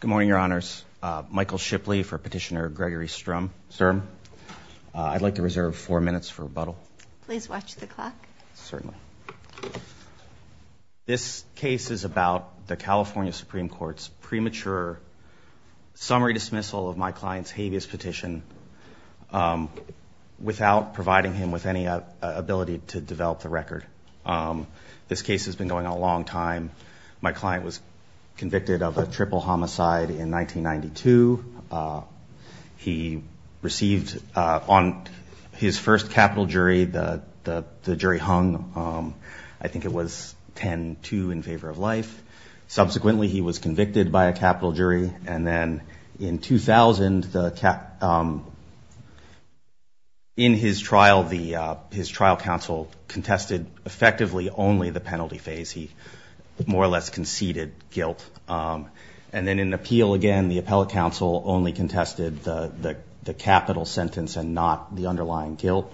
Good morning, Your Honors. Michael Shipley for Petitioner Gregory Sturm. I'd like to reserve four minutes for rebuttal. Please watch the clock. Certainly. This case is about the California Supreme Court's premature summary dismissal of my client's habeas petition without providing him with any ability to develop the record. This case has been going on a while. My client was convicted of a triple homicide in 1992. He received, on his first capital jury, the jury hung. I think it was 10-2 in favor of life. Subsequently, he was convicted by a capital jury. And then in 2000, in his trial, his trial counsel contested effectively only the penalty phase. He more or less conceded guilt. And then in appeal, again, the appellate counsel only contested the capital sentence and not the underlying guilt.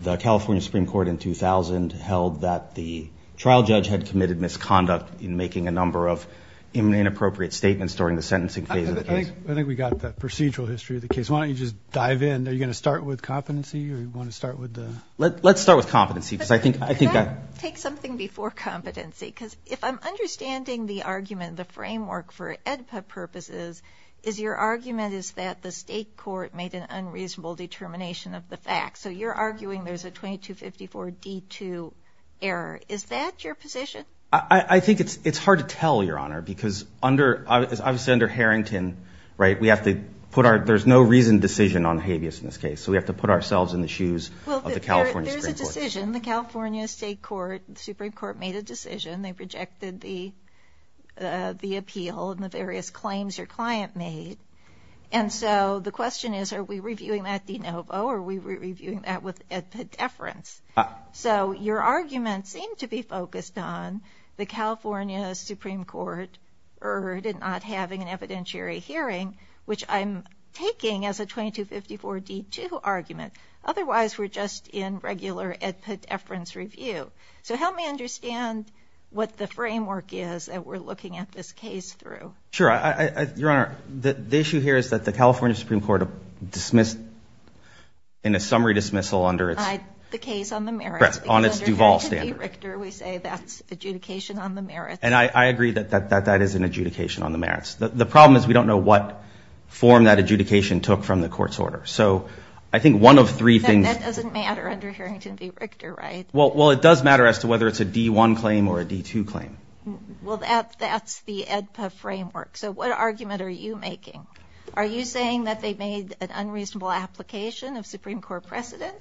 The California Supreme Court in 2000 held that the trial judge had committed misconduct in making a number of inappropriate statements during the sentencing phase of the case. I think we got the procedural history of the case. Why don't you just dive in? Are you going to start with competency or do you want to start with the... Let's start with competency because I think that... Can I take something before competency? Because if I'm understanding the argument, the framework for AEDPA purposes, is your argument is that the state court made an unreasonable determination of the facts. So you're arguing there's a 2254 D2 error. Is that your position? I think it's hard to tell, Your Honor, because under, as I've said, under Harrington, right, we have to put our... There's no reason decision on habeas in this case. So we have to put ourselves in the shoes of the California Supreme Court. Well, there's a decision. The California State Court, the Supreme Court made a decision. They projected the appeal and the various claims your client made. And so the question is, are we reviewing that de novo or are we reviewing that with AEDPA deference? So your argument seemed to be focused on the California Supreme Court erred in not having an evidentiary hearing, which I'm taking as a 2254 D2 argument. Otherwise, we're just in regular AEDPA deference review. So help me understand what the framework is that we're looking at this case through. Sure. Your Honor, the issue here is that the California Supreme Court dismissed in a summary dismissal under its... The case on the merits. On its Duvall standard. Because under Harrington v. Richter, we say that's adjudication on the merits. And I agree that that is an adjudication on the merits. The problem is we don't know what form that adjudication took from the court's order. So I think one of three things... That doesn't matter under Harrington v. Richter, right? Well, it does matter as to whether it's a D1 claim or a D2 claim. Well, that's the AEDPA framework. So what argument are you making? Are you saying that they made an unreasonable application of Supreme Court precedent?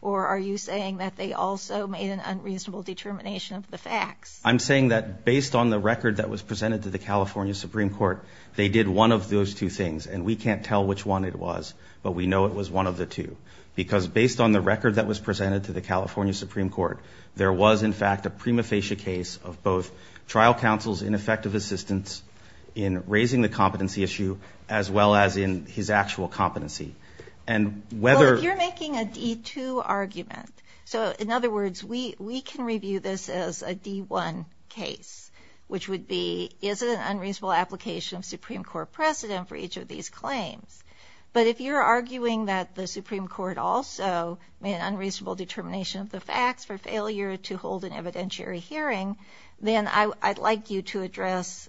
Or are you saying that they also made an unreasonable determination of the facts? I'm saying that based on the record that was presented to the California Supreme Court, they did one of those two things. And we can't tell which one it was, but we know it was one of the two. Because based on the record that was presented to the California Supreme Court, there was, in fact, a prima facie case of both trial counsel's ineffective assistance in raising the competency issue, as well as in his actual competency. And whether... D1 case, which would be, is it an unreasonable application of Supreme Court precedent for each of these claims? But if you're arguing that the Supreme Court also made an unreasonable determination of the facts for failure to hold an evidentiary hearing, then I'd like you to address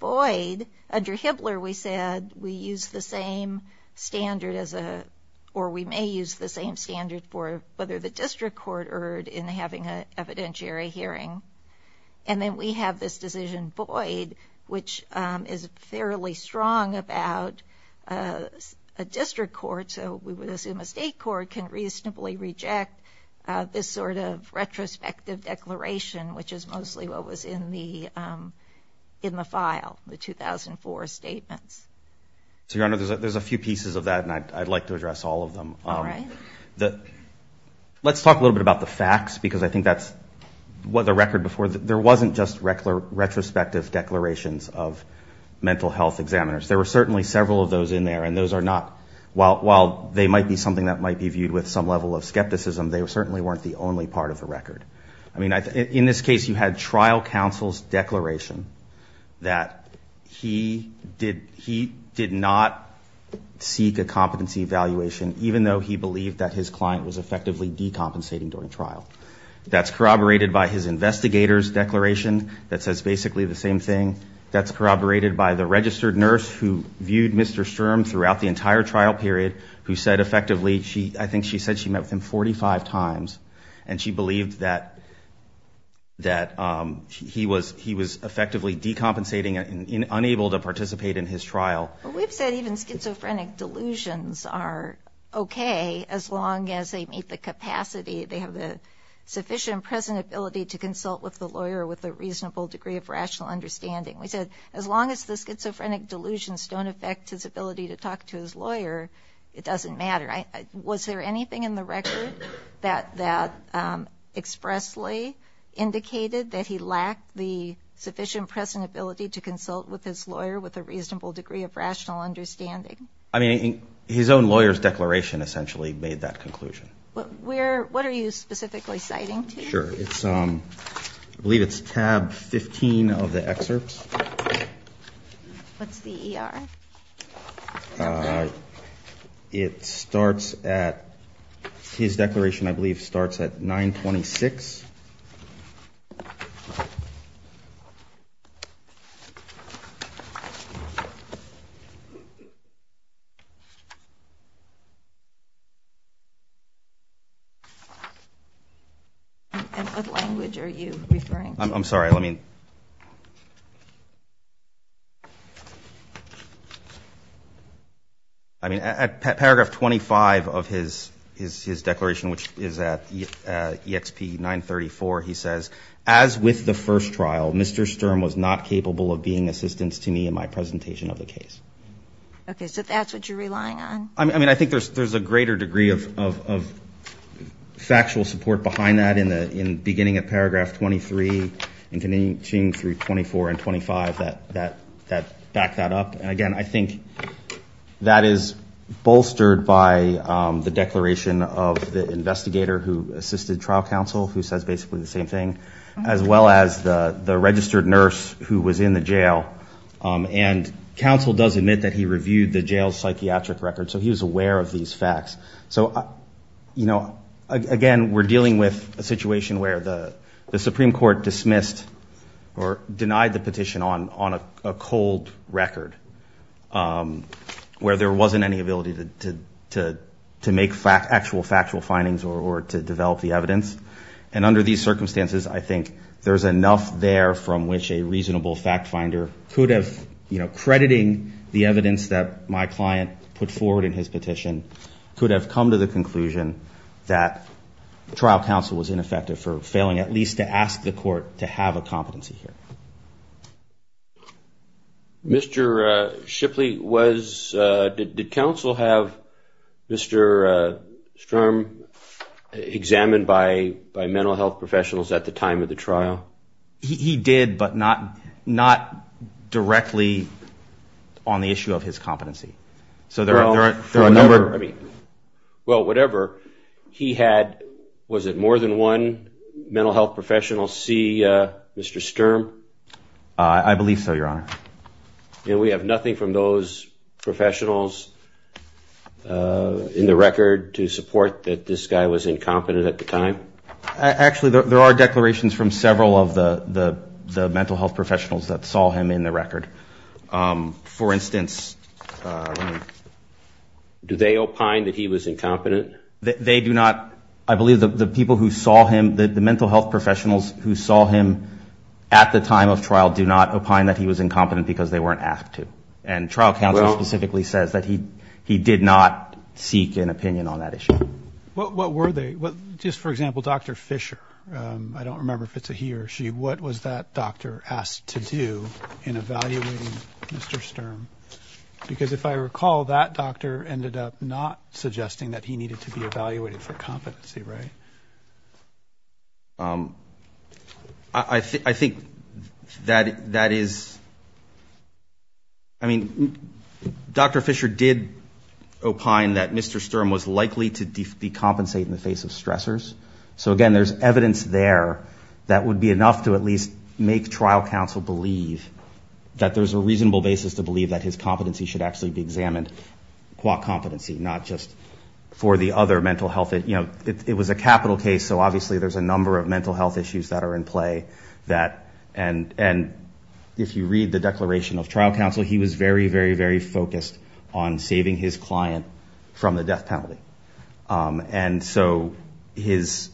Boyd. Under Hibbler, we said we use the same standard as a... Or we may use the same standard for whether the district court erred in having an evidentiary hearing. And then we have this decision, Boyd, which is fairly strong about a district court. So we would assume a state court can reasonably reject this sort of retrospective declaration, which is mostly what was in the file, the 2004 statements. So, Your Honor, there's a few pieces of that, and I'd like to address all of them. All right. Let's talk a little bit about the facts, because I think that's... The record before, there wasn't just retrospective declarations of mental health examiners. There were certainly several of those in there, and those are not... While they might be something that might be viewed with some level of skepticism, they certainly weren't the only part of the record. I mean, in this case, you had trial counsel's declaration that he did not seek a competency evaluation, even though he believed that his client was effectively decompensating during trial. That's corroborated by his investigator's declaration that says basically the same thing. That's corroborated by the registered nurse who viewed Mr. Sturm throughout the entire trial period, who said effectively she... I think she said she met with him 45 times, and she believed that he was effectively decompensating and unable to participate in his trial. Well, we've said even schizophrenic delusions are okay as long as they meet the capacity, they have the sufficient present ability to consult with the lawyer with a reasonable degree of rational understanding. We said as long as the schizophrenic delusions don't affect his ability to talk to his lawyer, it doesn't matter. Was there anything in the record that expressly indicated that he lacked the sufficient present ability to consult with his lawyer with a reasonable degree of rational understanding? I mean, his own lawyer's declaration essentially made that conclusion. What are you specifically citing to me? Sure. I believe it's tab 15 of the excerpts. What's the ER? It starts at... His declaration, I believe, starts at 926. And what language are you referring to? I'm sorry, let me... I mean, at paragraph 25 of his declaration, which is at EXP 934, he says, as with the first trial, Mr. Sturm was not capable of being assistance to me in my presentation of the case. Okay. So that's what you're relying on? I mean, I think there's a greater degree of factual support behind that in the beginning at paragraph 23 and continuing through 24 and 25 that back that up. And again, I think that is bolstered by the declaration of the investigator who assisted trial counsel, who says basically the same thing, as well as the registered nurse who was in the jail. And counsel does admit that he reviewed the jail's psychiatric record. So he was aware of these facts. So, you know, again, we're dealing with a situation where the Supreme Court dismissed or denied the petition on a cold record where there wasn't any ability to make actual factual findings or to develop the evidence. And under these circumstances, I think there's enough there from which a reasonable fact finder could have, you know, crediting the evidence that my client put forward in his petition, could have come to the conclusion that trial counsel was ineffective or failing at least to ask the court to have a competency here. Mr. Shipley, did counsel have Mr. Sturm examined by mental health professionals at the time of the trial? He did, but not directly on the issue of his competency. Well, whatever. He had, was it more than one mental health professional see Mr. Sturm? I believe so, Your Honor. And we have nothing from those professionals in the record to support that this guy was incompetent at the time? Actually, there are declarations from several of the mental health professionals that saw him in the record. For instance... Do they opine that he was incompetent? They do not, I believe the people who saw him, the mental health professionals who saw him at the time of trial do not opine that he was incompetent because they weren't asked to. And trial counsel specifically says that he did not seek an opinion on that issue. What were they? Just for example, Dr. Fisher. I don't remember if it's a he or she. What was that doctor asked to do in evaluating Mr. Sturm? Because if I recall, that doctor ended up not suggesting that he needed to be evaluated for competency, right? I think that is... I mean, Dr. Fisher did opine that Mr. Sturm was likely to decompensate in the face of stressors. So again, there's evidence there that would be enough to at least make trial counsel believe that there's a reasonable basis to believe that his competency should actually be examined qua competency, not just for the other mental health... It was a capital case, so obviously there's a number of mental health issues that are in play. And if you read the declaration of trial counsel, he was very, very, very focused on saving his client from the death penalty. And so his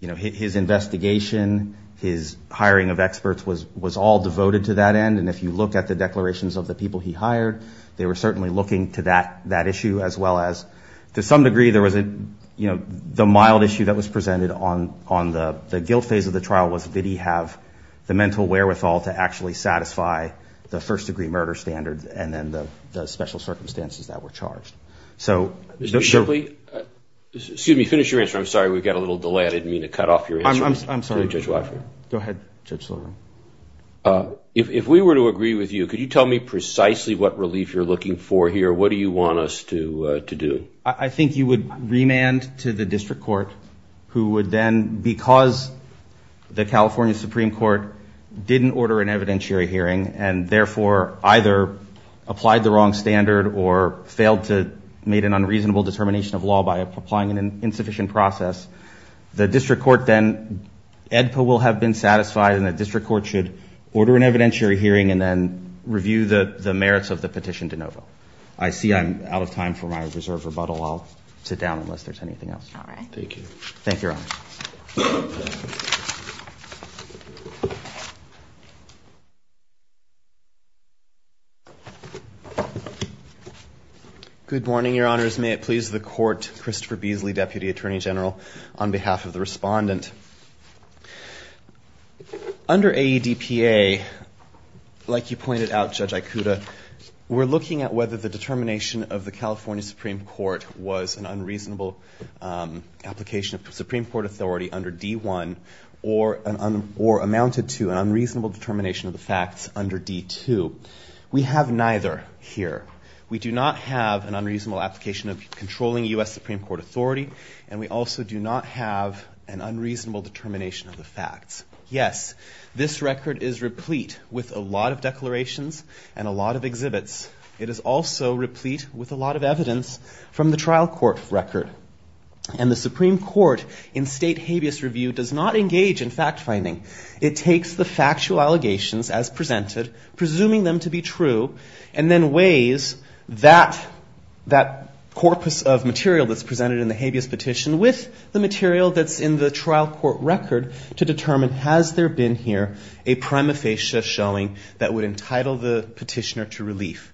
investigation, his hiring of experts, was all devoted to that end. And if you look at the declarations of the people he hired, they were certainly looking to that issue as well as... To some degree, the mild issue that was presented on the guilt phase of the trial was, did he have the mental wherewithal to actually satisfy the first-degree murder standard and then the special circumstances that were charged. So... Excuse me, finish your answer. I'm sorry, we've got a little delay. I didn't mean to cut off your answer. I'm sorry. Judge Watford. Go ahead, Judge Sullivan. If we were to agree with you, could you tell me precisely what relief you're looking for here? What do you want us to do? I think you would remand to the district court who would then, because the California Supreme Court didn't order an evidentiary hearing, and therefore, either applied the wrong standard or failed to make an unreasonable determination of law by applying an insufficient process, the district court then, EDPA will have been satisfied and the district court should order an evidentiary hearing and then review the merits of the petition de novo. I see I'm out of time for my reserved rebuttal. I'll sit down unless there's anything else. All right. Thank you. Thank you, Your Honor. Good morning, Your Honors. May it please the court, Christopher Beasley, Deputy Attorney General, on behalf of the respondent. Under AEDPA, like you pointed out, Judge Ikuta, we're looking at whether the determination of the California Supreme Court was an unreasonable application of Supreme Court authority under D-1 or amounted to an unreasonable determination of the facts under D-2. We have neither here. We do not have an unreasonable application of controlling U.S. Supreme Court authority, and we also do not have an unreasonable determination of the facts. Yes, this record is replete with a lot of declarations and a lot of exhibits. It is also replete with a lot of evidence from the trial court record. And the Supreme Court, in state habeas review, does not engage in fact-finding. It takes the factual allegations as presented, presuming them to be true, and then weighs that corpus of material that's presented in the habeas petition with the material that's in the trial court record to determine has there been here a prima facie showing that would entitle the petitioner to relief.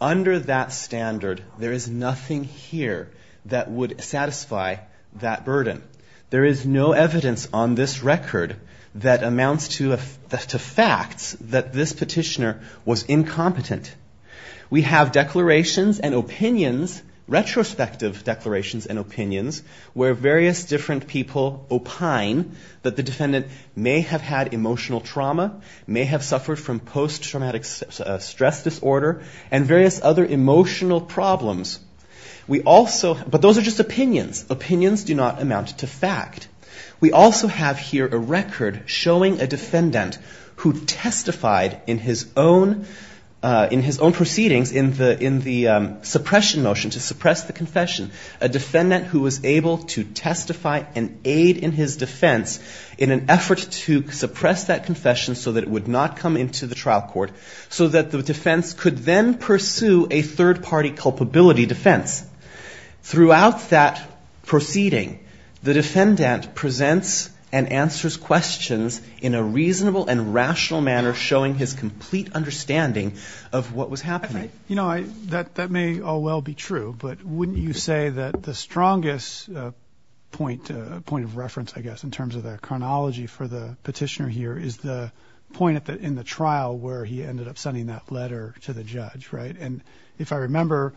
Under that standard, there is nothing here that would satisfy that burden. There is no evidence on this record that amounts to facts that this petitioner was incompetent. We have declarations and opinions, retrospective declarations and opinions, where various different people opine that the defendant may have had emotional trauma, may have suffered from post-traumatic stress disorder, and various other emotional problems. We also... but those are just opinions. Opinions do not amount to fact. We also have here a record showing a defendant who testified in his own proceedings in the suppression motion to suppress the confession. A defendant who was able to testify and aid in his defense in an effort to suppress that confession so that it would not come into the trial court, so that the defense could then pursue a third-party culpability defense. Throughout that proceeding, the defendant presents and answers questions in a reasonable and rational manner, showing his complete understanding of what was happening. You know, that may all well be true, but wouldn't you say that the strongest point, point of reference, I guess, in terms of the chronology for the petitioner here, is the point in the trial where he ended up sending that letter to the judge, right? And if I remember,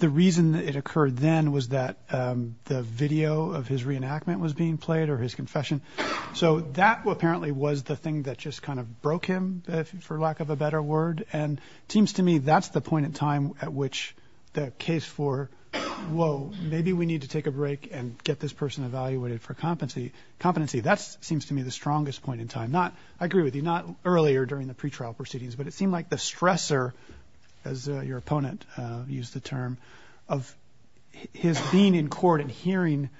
the reason it occurred then was that the video of his reenactment was being played or his confession. So that apparently was the thing that just kind of broke him, for lack of a better word. And it seems to me that's the point in time at which the case for, whoa, maybe we need to take a break and get this person evaluated for competency, that seems to me the strongest point in time. I agree with you, not earlier during the pretrial proceedings, but it seemed like the stressor, as your opponent used the term, of his being in court and hearing,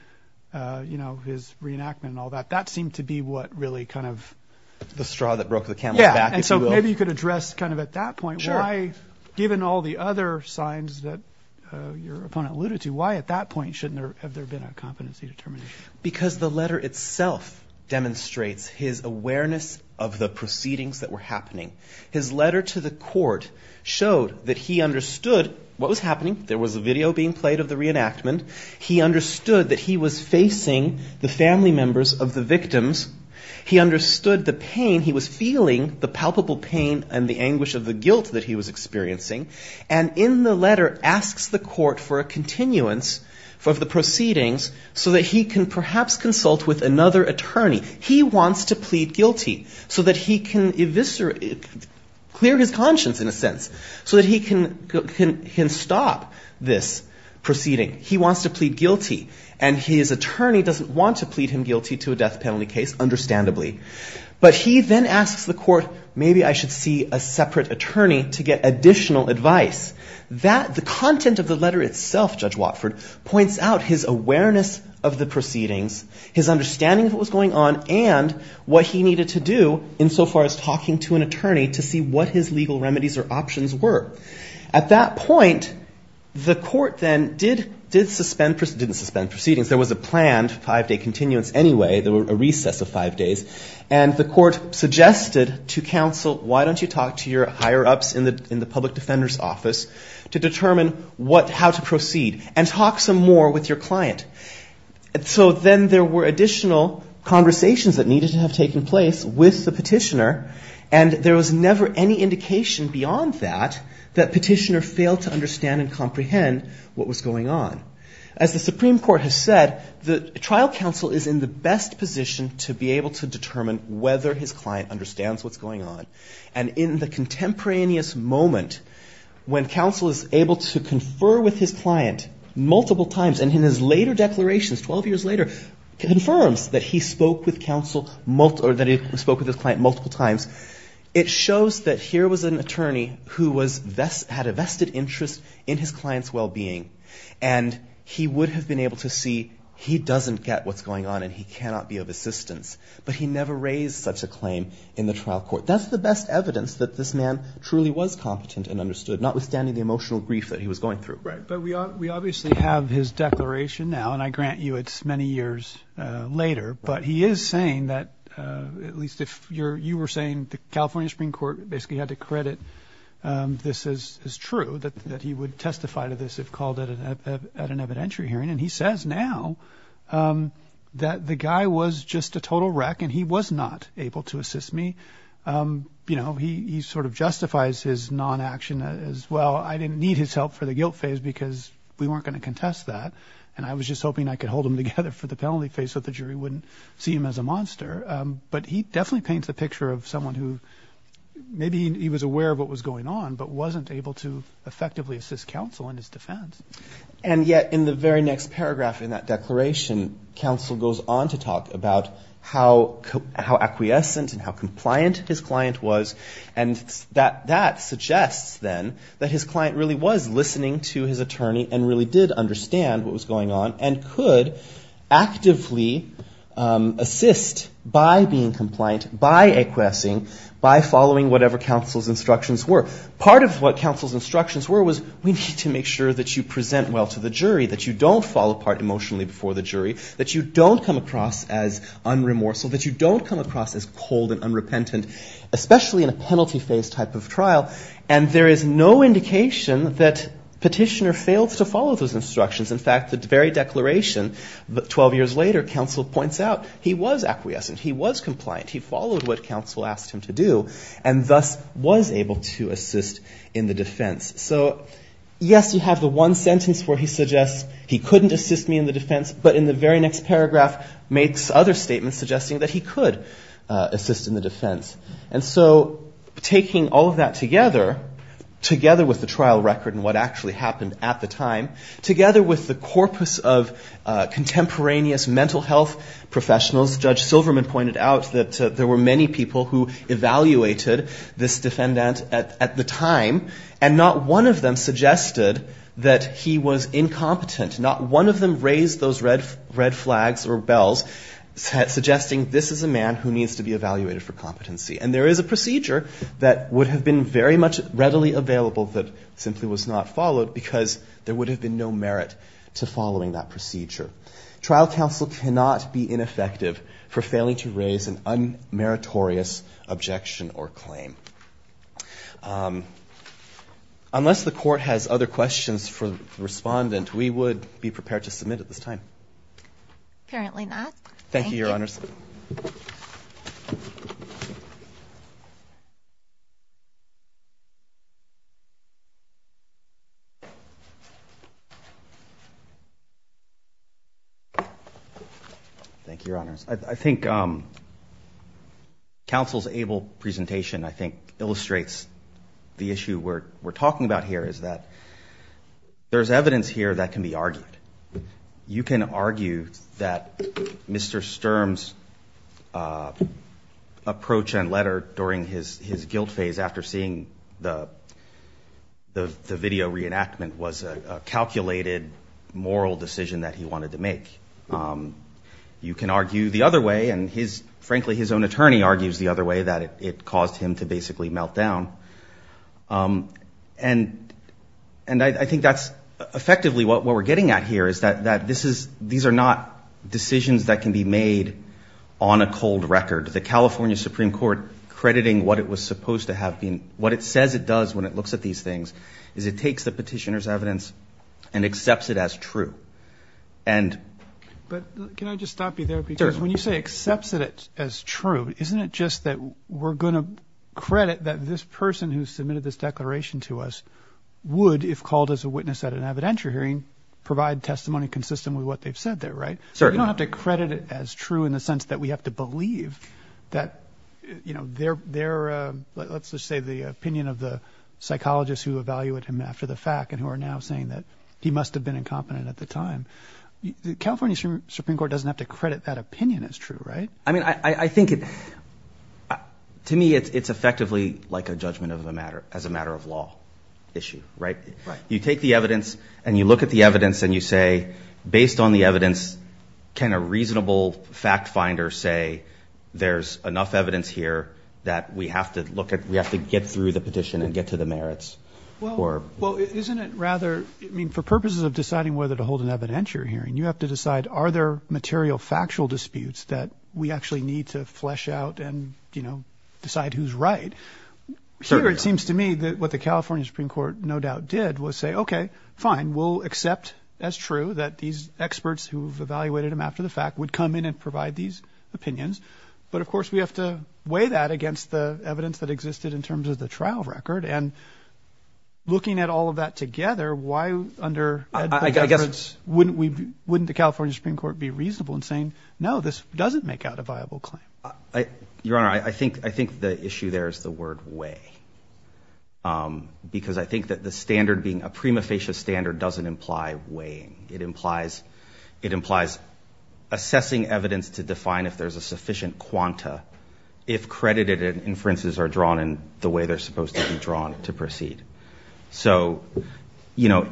you know, his reenactment and all that, that seemed to be what really kind of... The straw that broke the camel's back. Yeah, and so maybe you could address kind of at that point why, given all the other signs that your opponent alluded to, why at that point shouldn't there have there been a competency determination? Because the letter itself demonstrates his awareness of the proceedings that were happening. His letter to the court showed that he understood what was happening. There was a video being played of the reenactment. He understood that he was facing the family members of the victims. He understood the pain. He was feeling the palpable pain and the anguish of the guilt that he was experiencing. And in the letter asks the court for a continuance of the proceedings so that he can perhaps consult with another attorney. He wants to plead guilty so that he can eviscerate... clear his conscience, in a sense, so that he can stop this proceeding. He wants to plead guilty and his attorney doesn't want to plead him guilty to a death penalty case, understandably. But he then asks the court, maybe I should see a separate attorney to get additional advice. The content of the letter itself, Judge Watford, points out his awareness of the proceedings, his understanding of what was going on and what he needed to do in so far as talking to an attorney to see what his legal remedies or options were. At that point, the court then did suspend... didn't suspend proceedings. There was a planned five-day continuance anyway. There was a recess of five days. And the court suggested to counsel, why don't you talk to your higher-ups in the public defender's office to determine how to proceed and talk some more with your client. So then there were additional conversations that needed to have taken place with the petitioner and there was never any indication beyond that, that petitioner failed to understand and comprehend what was going on. As the Supreme Court has said, the trial counsel is in the best position to be able to determine whether his client understands what's going on. And in the contemporaneous moment when counsel is able to confer with his client multiple times, and in his later declarations, 12 years later, confirms that he spoke with his client multiple times, it shows that here was an attorney who had a vested interest in his client's well-being and he would have been able to see he doesn't get what's going on and he cannot be of assistance. But he never raised such a claim in the trial court. That's the best evidence that this man truly was competent and understood, notwithstanding the emotional grief that he was going through. But we obviously have his declaration now, and I grant you it's many years later, but he is saying that, at least if you were saying the California Supreme Court basically had to credit this as true, that he would testify to this if called at an evidentiary hearing, and he says now that the guy was just a total wreck and he was not able to assist me. You know, he sort of justifies his non-action as, well, I didn't need his help for the guilt phase because we weren't going to contest that, and I was just hoping I could hold him together for the penalty phase so the jury wouldn't see him as a monster. But he definitely paints the picture of someone who, maybe he was aware of what was going on, but wasn't able to effectively assist counsel in his defense. And yet, in the very next paragraph in that declaration, counsel goes on to talk about how acquiescent and how compliant his client was and that suggests then that his client really was listening to his attorney and really did understand what was going on and could actively assist by being compliant, by acquiescing, by following whatever counsel's instructions were. Part of what counsel's instructions were was, we need to make sure that you present well to the jury, that you don't fall apart emotionally before the jury, that you don't come across as unremorseful, that you don't come across as cold and unrepentant, especially in a penalty phase type of trial, and there is no indication that petitioner failed to follow those instructions. In fact, the very declaration 12 years later, counsel points out he was acquiescent, he was compliant, he followed what counsel asked him to do and thus was able to assist in the defense. So, yes, you have the one sentence where he suggests he couldn't assist me in the defense, but in the very next paragraph makes other statements suggesting that he could assist in the defense. And so, taking all of that together, together with the trial record and what actually happened at the time, together with the corpus of contemporaneous mental health professionals, Judge Silverman pointed out that there were many people who evaluated this defendant at the time, and not one of them suggested that he was he raised those red flags or bells suggesting this is a man who needs to be evaluated for competency. And there is a procedure that would have been very much readily available that simply was not followed because there would have been no merit to following that procedure. Trial counsel cannot be ineffective for failing to raise an unmeritorious objection or claim. Unless the court has other questions for the at this time. Thank you, Your Honors. Thank you, Your Honors. I think counsel's able presentation I think illustrates the issue we're talking about here is that there's evidence here that can be argued. You can argue that Mr. Sturm's approach and letter during his guilt phase after seeing the video reenactment was a calculated moral decision that he wanted to make. You can argue the other way and frankly his own attorney argues the other way that it caused him to basically melt down. And I think that's effectively what we're getting at here is that these are not decisions that can be made on a cold record. The California Supreme Court crediting what it was supposed to have been, what it says it does when it looks at these things is it takes the petitioner's evidence and accepts it as true. Can I just stop you there? Because when you say accepts it as true isn't it just that we're gonna credit that this person who submitted this declaration to us would, if called as a witness at an evidentiary hearing, provide testimony consistent with what they've said there, right? You don't have to credit it as true in the sense that we have to believe that you know, their let's just say the opinion of the psychologists who evaluate him after the fact and who are now saying that he must have been incompetent at the time. The California Supreme Court doesn't have to credit that opinion as true, right? I mean, I think it to me, it's effectively like a judgment of the matter as a matter of law issue, right? You take the evidence and you look at the evidence and you say based on the evidence, can a reasonable fact finder say there's enough evidence here that we have to look at, we have to get through the petition and get to the merits? Well, isn't it rather I mean, for purposes of deciding whether to hold an evidentiary hearing, you have to decide are there material factual disputes that we actually need to flesh out and, you know, decide who's right? Here, it seems to me that what the California Supreme Court no doubt did was say, okay, fine, we'll accept as true that these experts who've evaluated him after the fact would come in and provide these opinions but of course we have to weigh that against the evidence that existed in terms of the trial record and looking at all of that together why under evidence wouldn't the California Supreme Court be reasonable in saying, no, this doesn't make out a viable claim? Your Honor, I think the issue there is the word weigh because I think that the standard being a prima facie standard doesn't imply weighing. It implies assessing evidence to define if there's a sufficient quanta if credited inferences are drawn in the way they're supposed to be drawn to proceed. So, you know,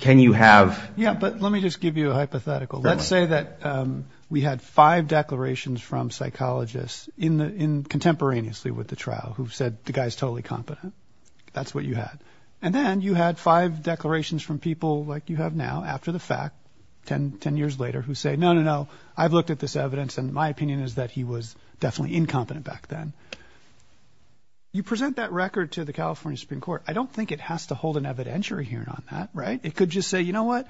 can you have Yeah, but let me just give you a hypothetical. Let's say that we had five declarations from psychologists contemporaneously with the trial who said, the guy's totally competent. That's what you had. And then you had five declarations from people like you have now after the fact ten years later who say, no, no, no I've looked at this evidence and my opinion is that he was definitely incompetent back then. You present that record to the California Supreme Court I don't think it has to hold an evidentiary hearing on that, right? It could just say, you know what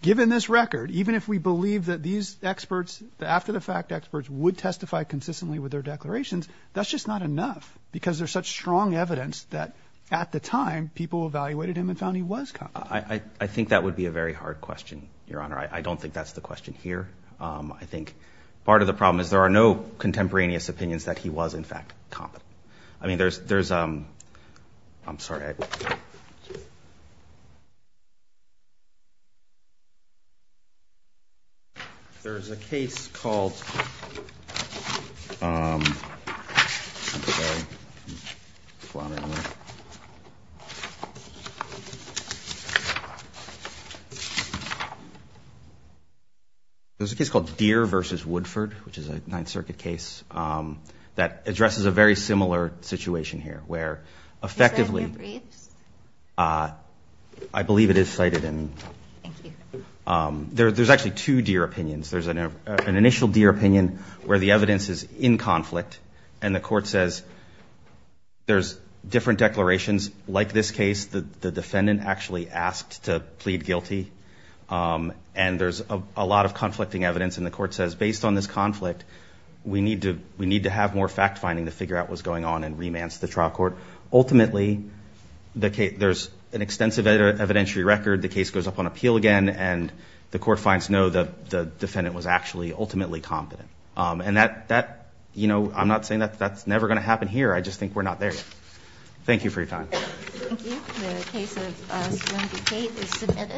given this record, even if we believe that these experts, the after the fact experts would testify consistently with their declarations, that's just not enough because there's such strong evidence that at the time people evaluated him and found he was competent. I think that would be a very hard question, Your Honor. I don't think that's the question here. I think part of the problem is there are no contemporaneous opinions that he was in fact competent. I mean, there's I'm sorry Okay. There's a case called I'm sorry There's a case called Deere v. Woodford, which is a Ninth Circuit case that addresses a very similar situation here where effectively I believe it is cited in There's actually two Deere opinions. There's an initial Deere opinion where the evidence is in conflict and the court says there's different declarations. Like this case, the defendant actually asked to plead guilty and there's a lot of conflicting evidence and the court says based on this conflict we need to have more fact finding to figure out what's going on and remand the trial court. Ultimately there's an extensive evidentiary record. The case goes up on appeal again and the court finds no the defendant was actually ultimately competent. And that you know, I'm not saying that's never going to happen here. I just think we're not there yet. Thank you for your time. Thank you. The case of Serenity Cate is submitted.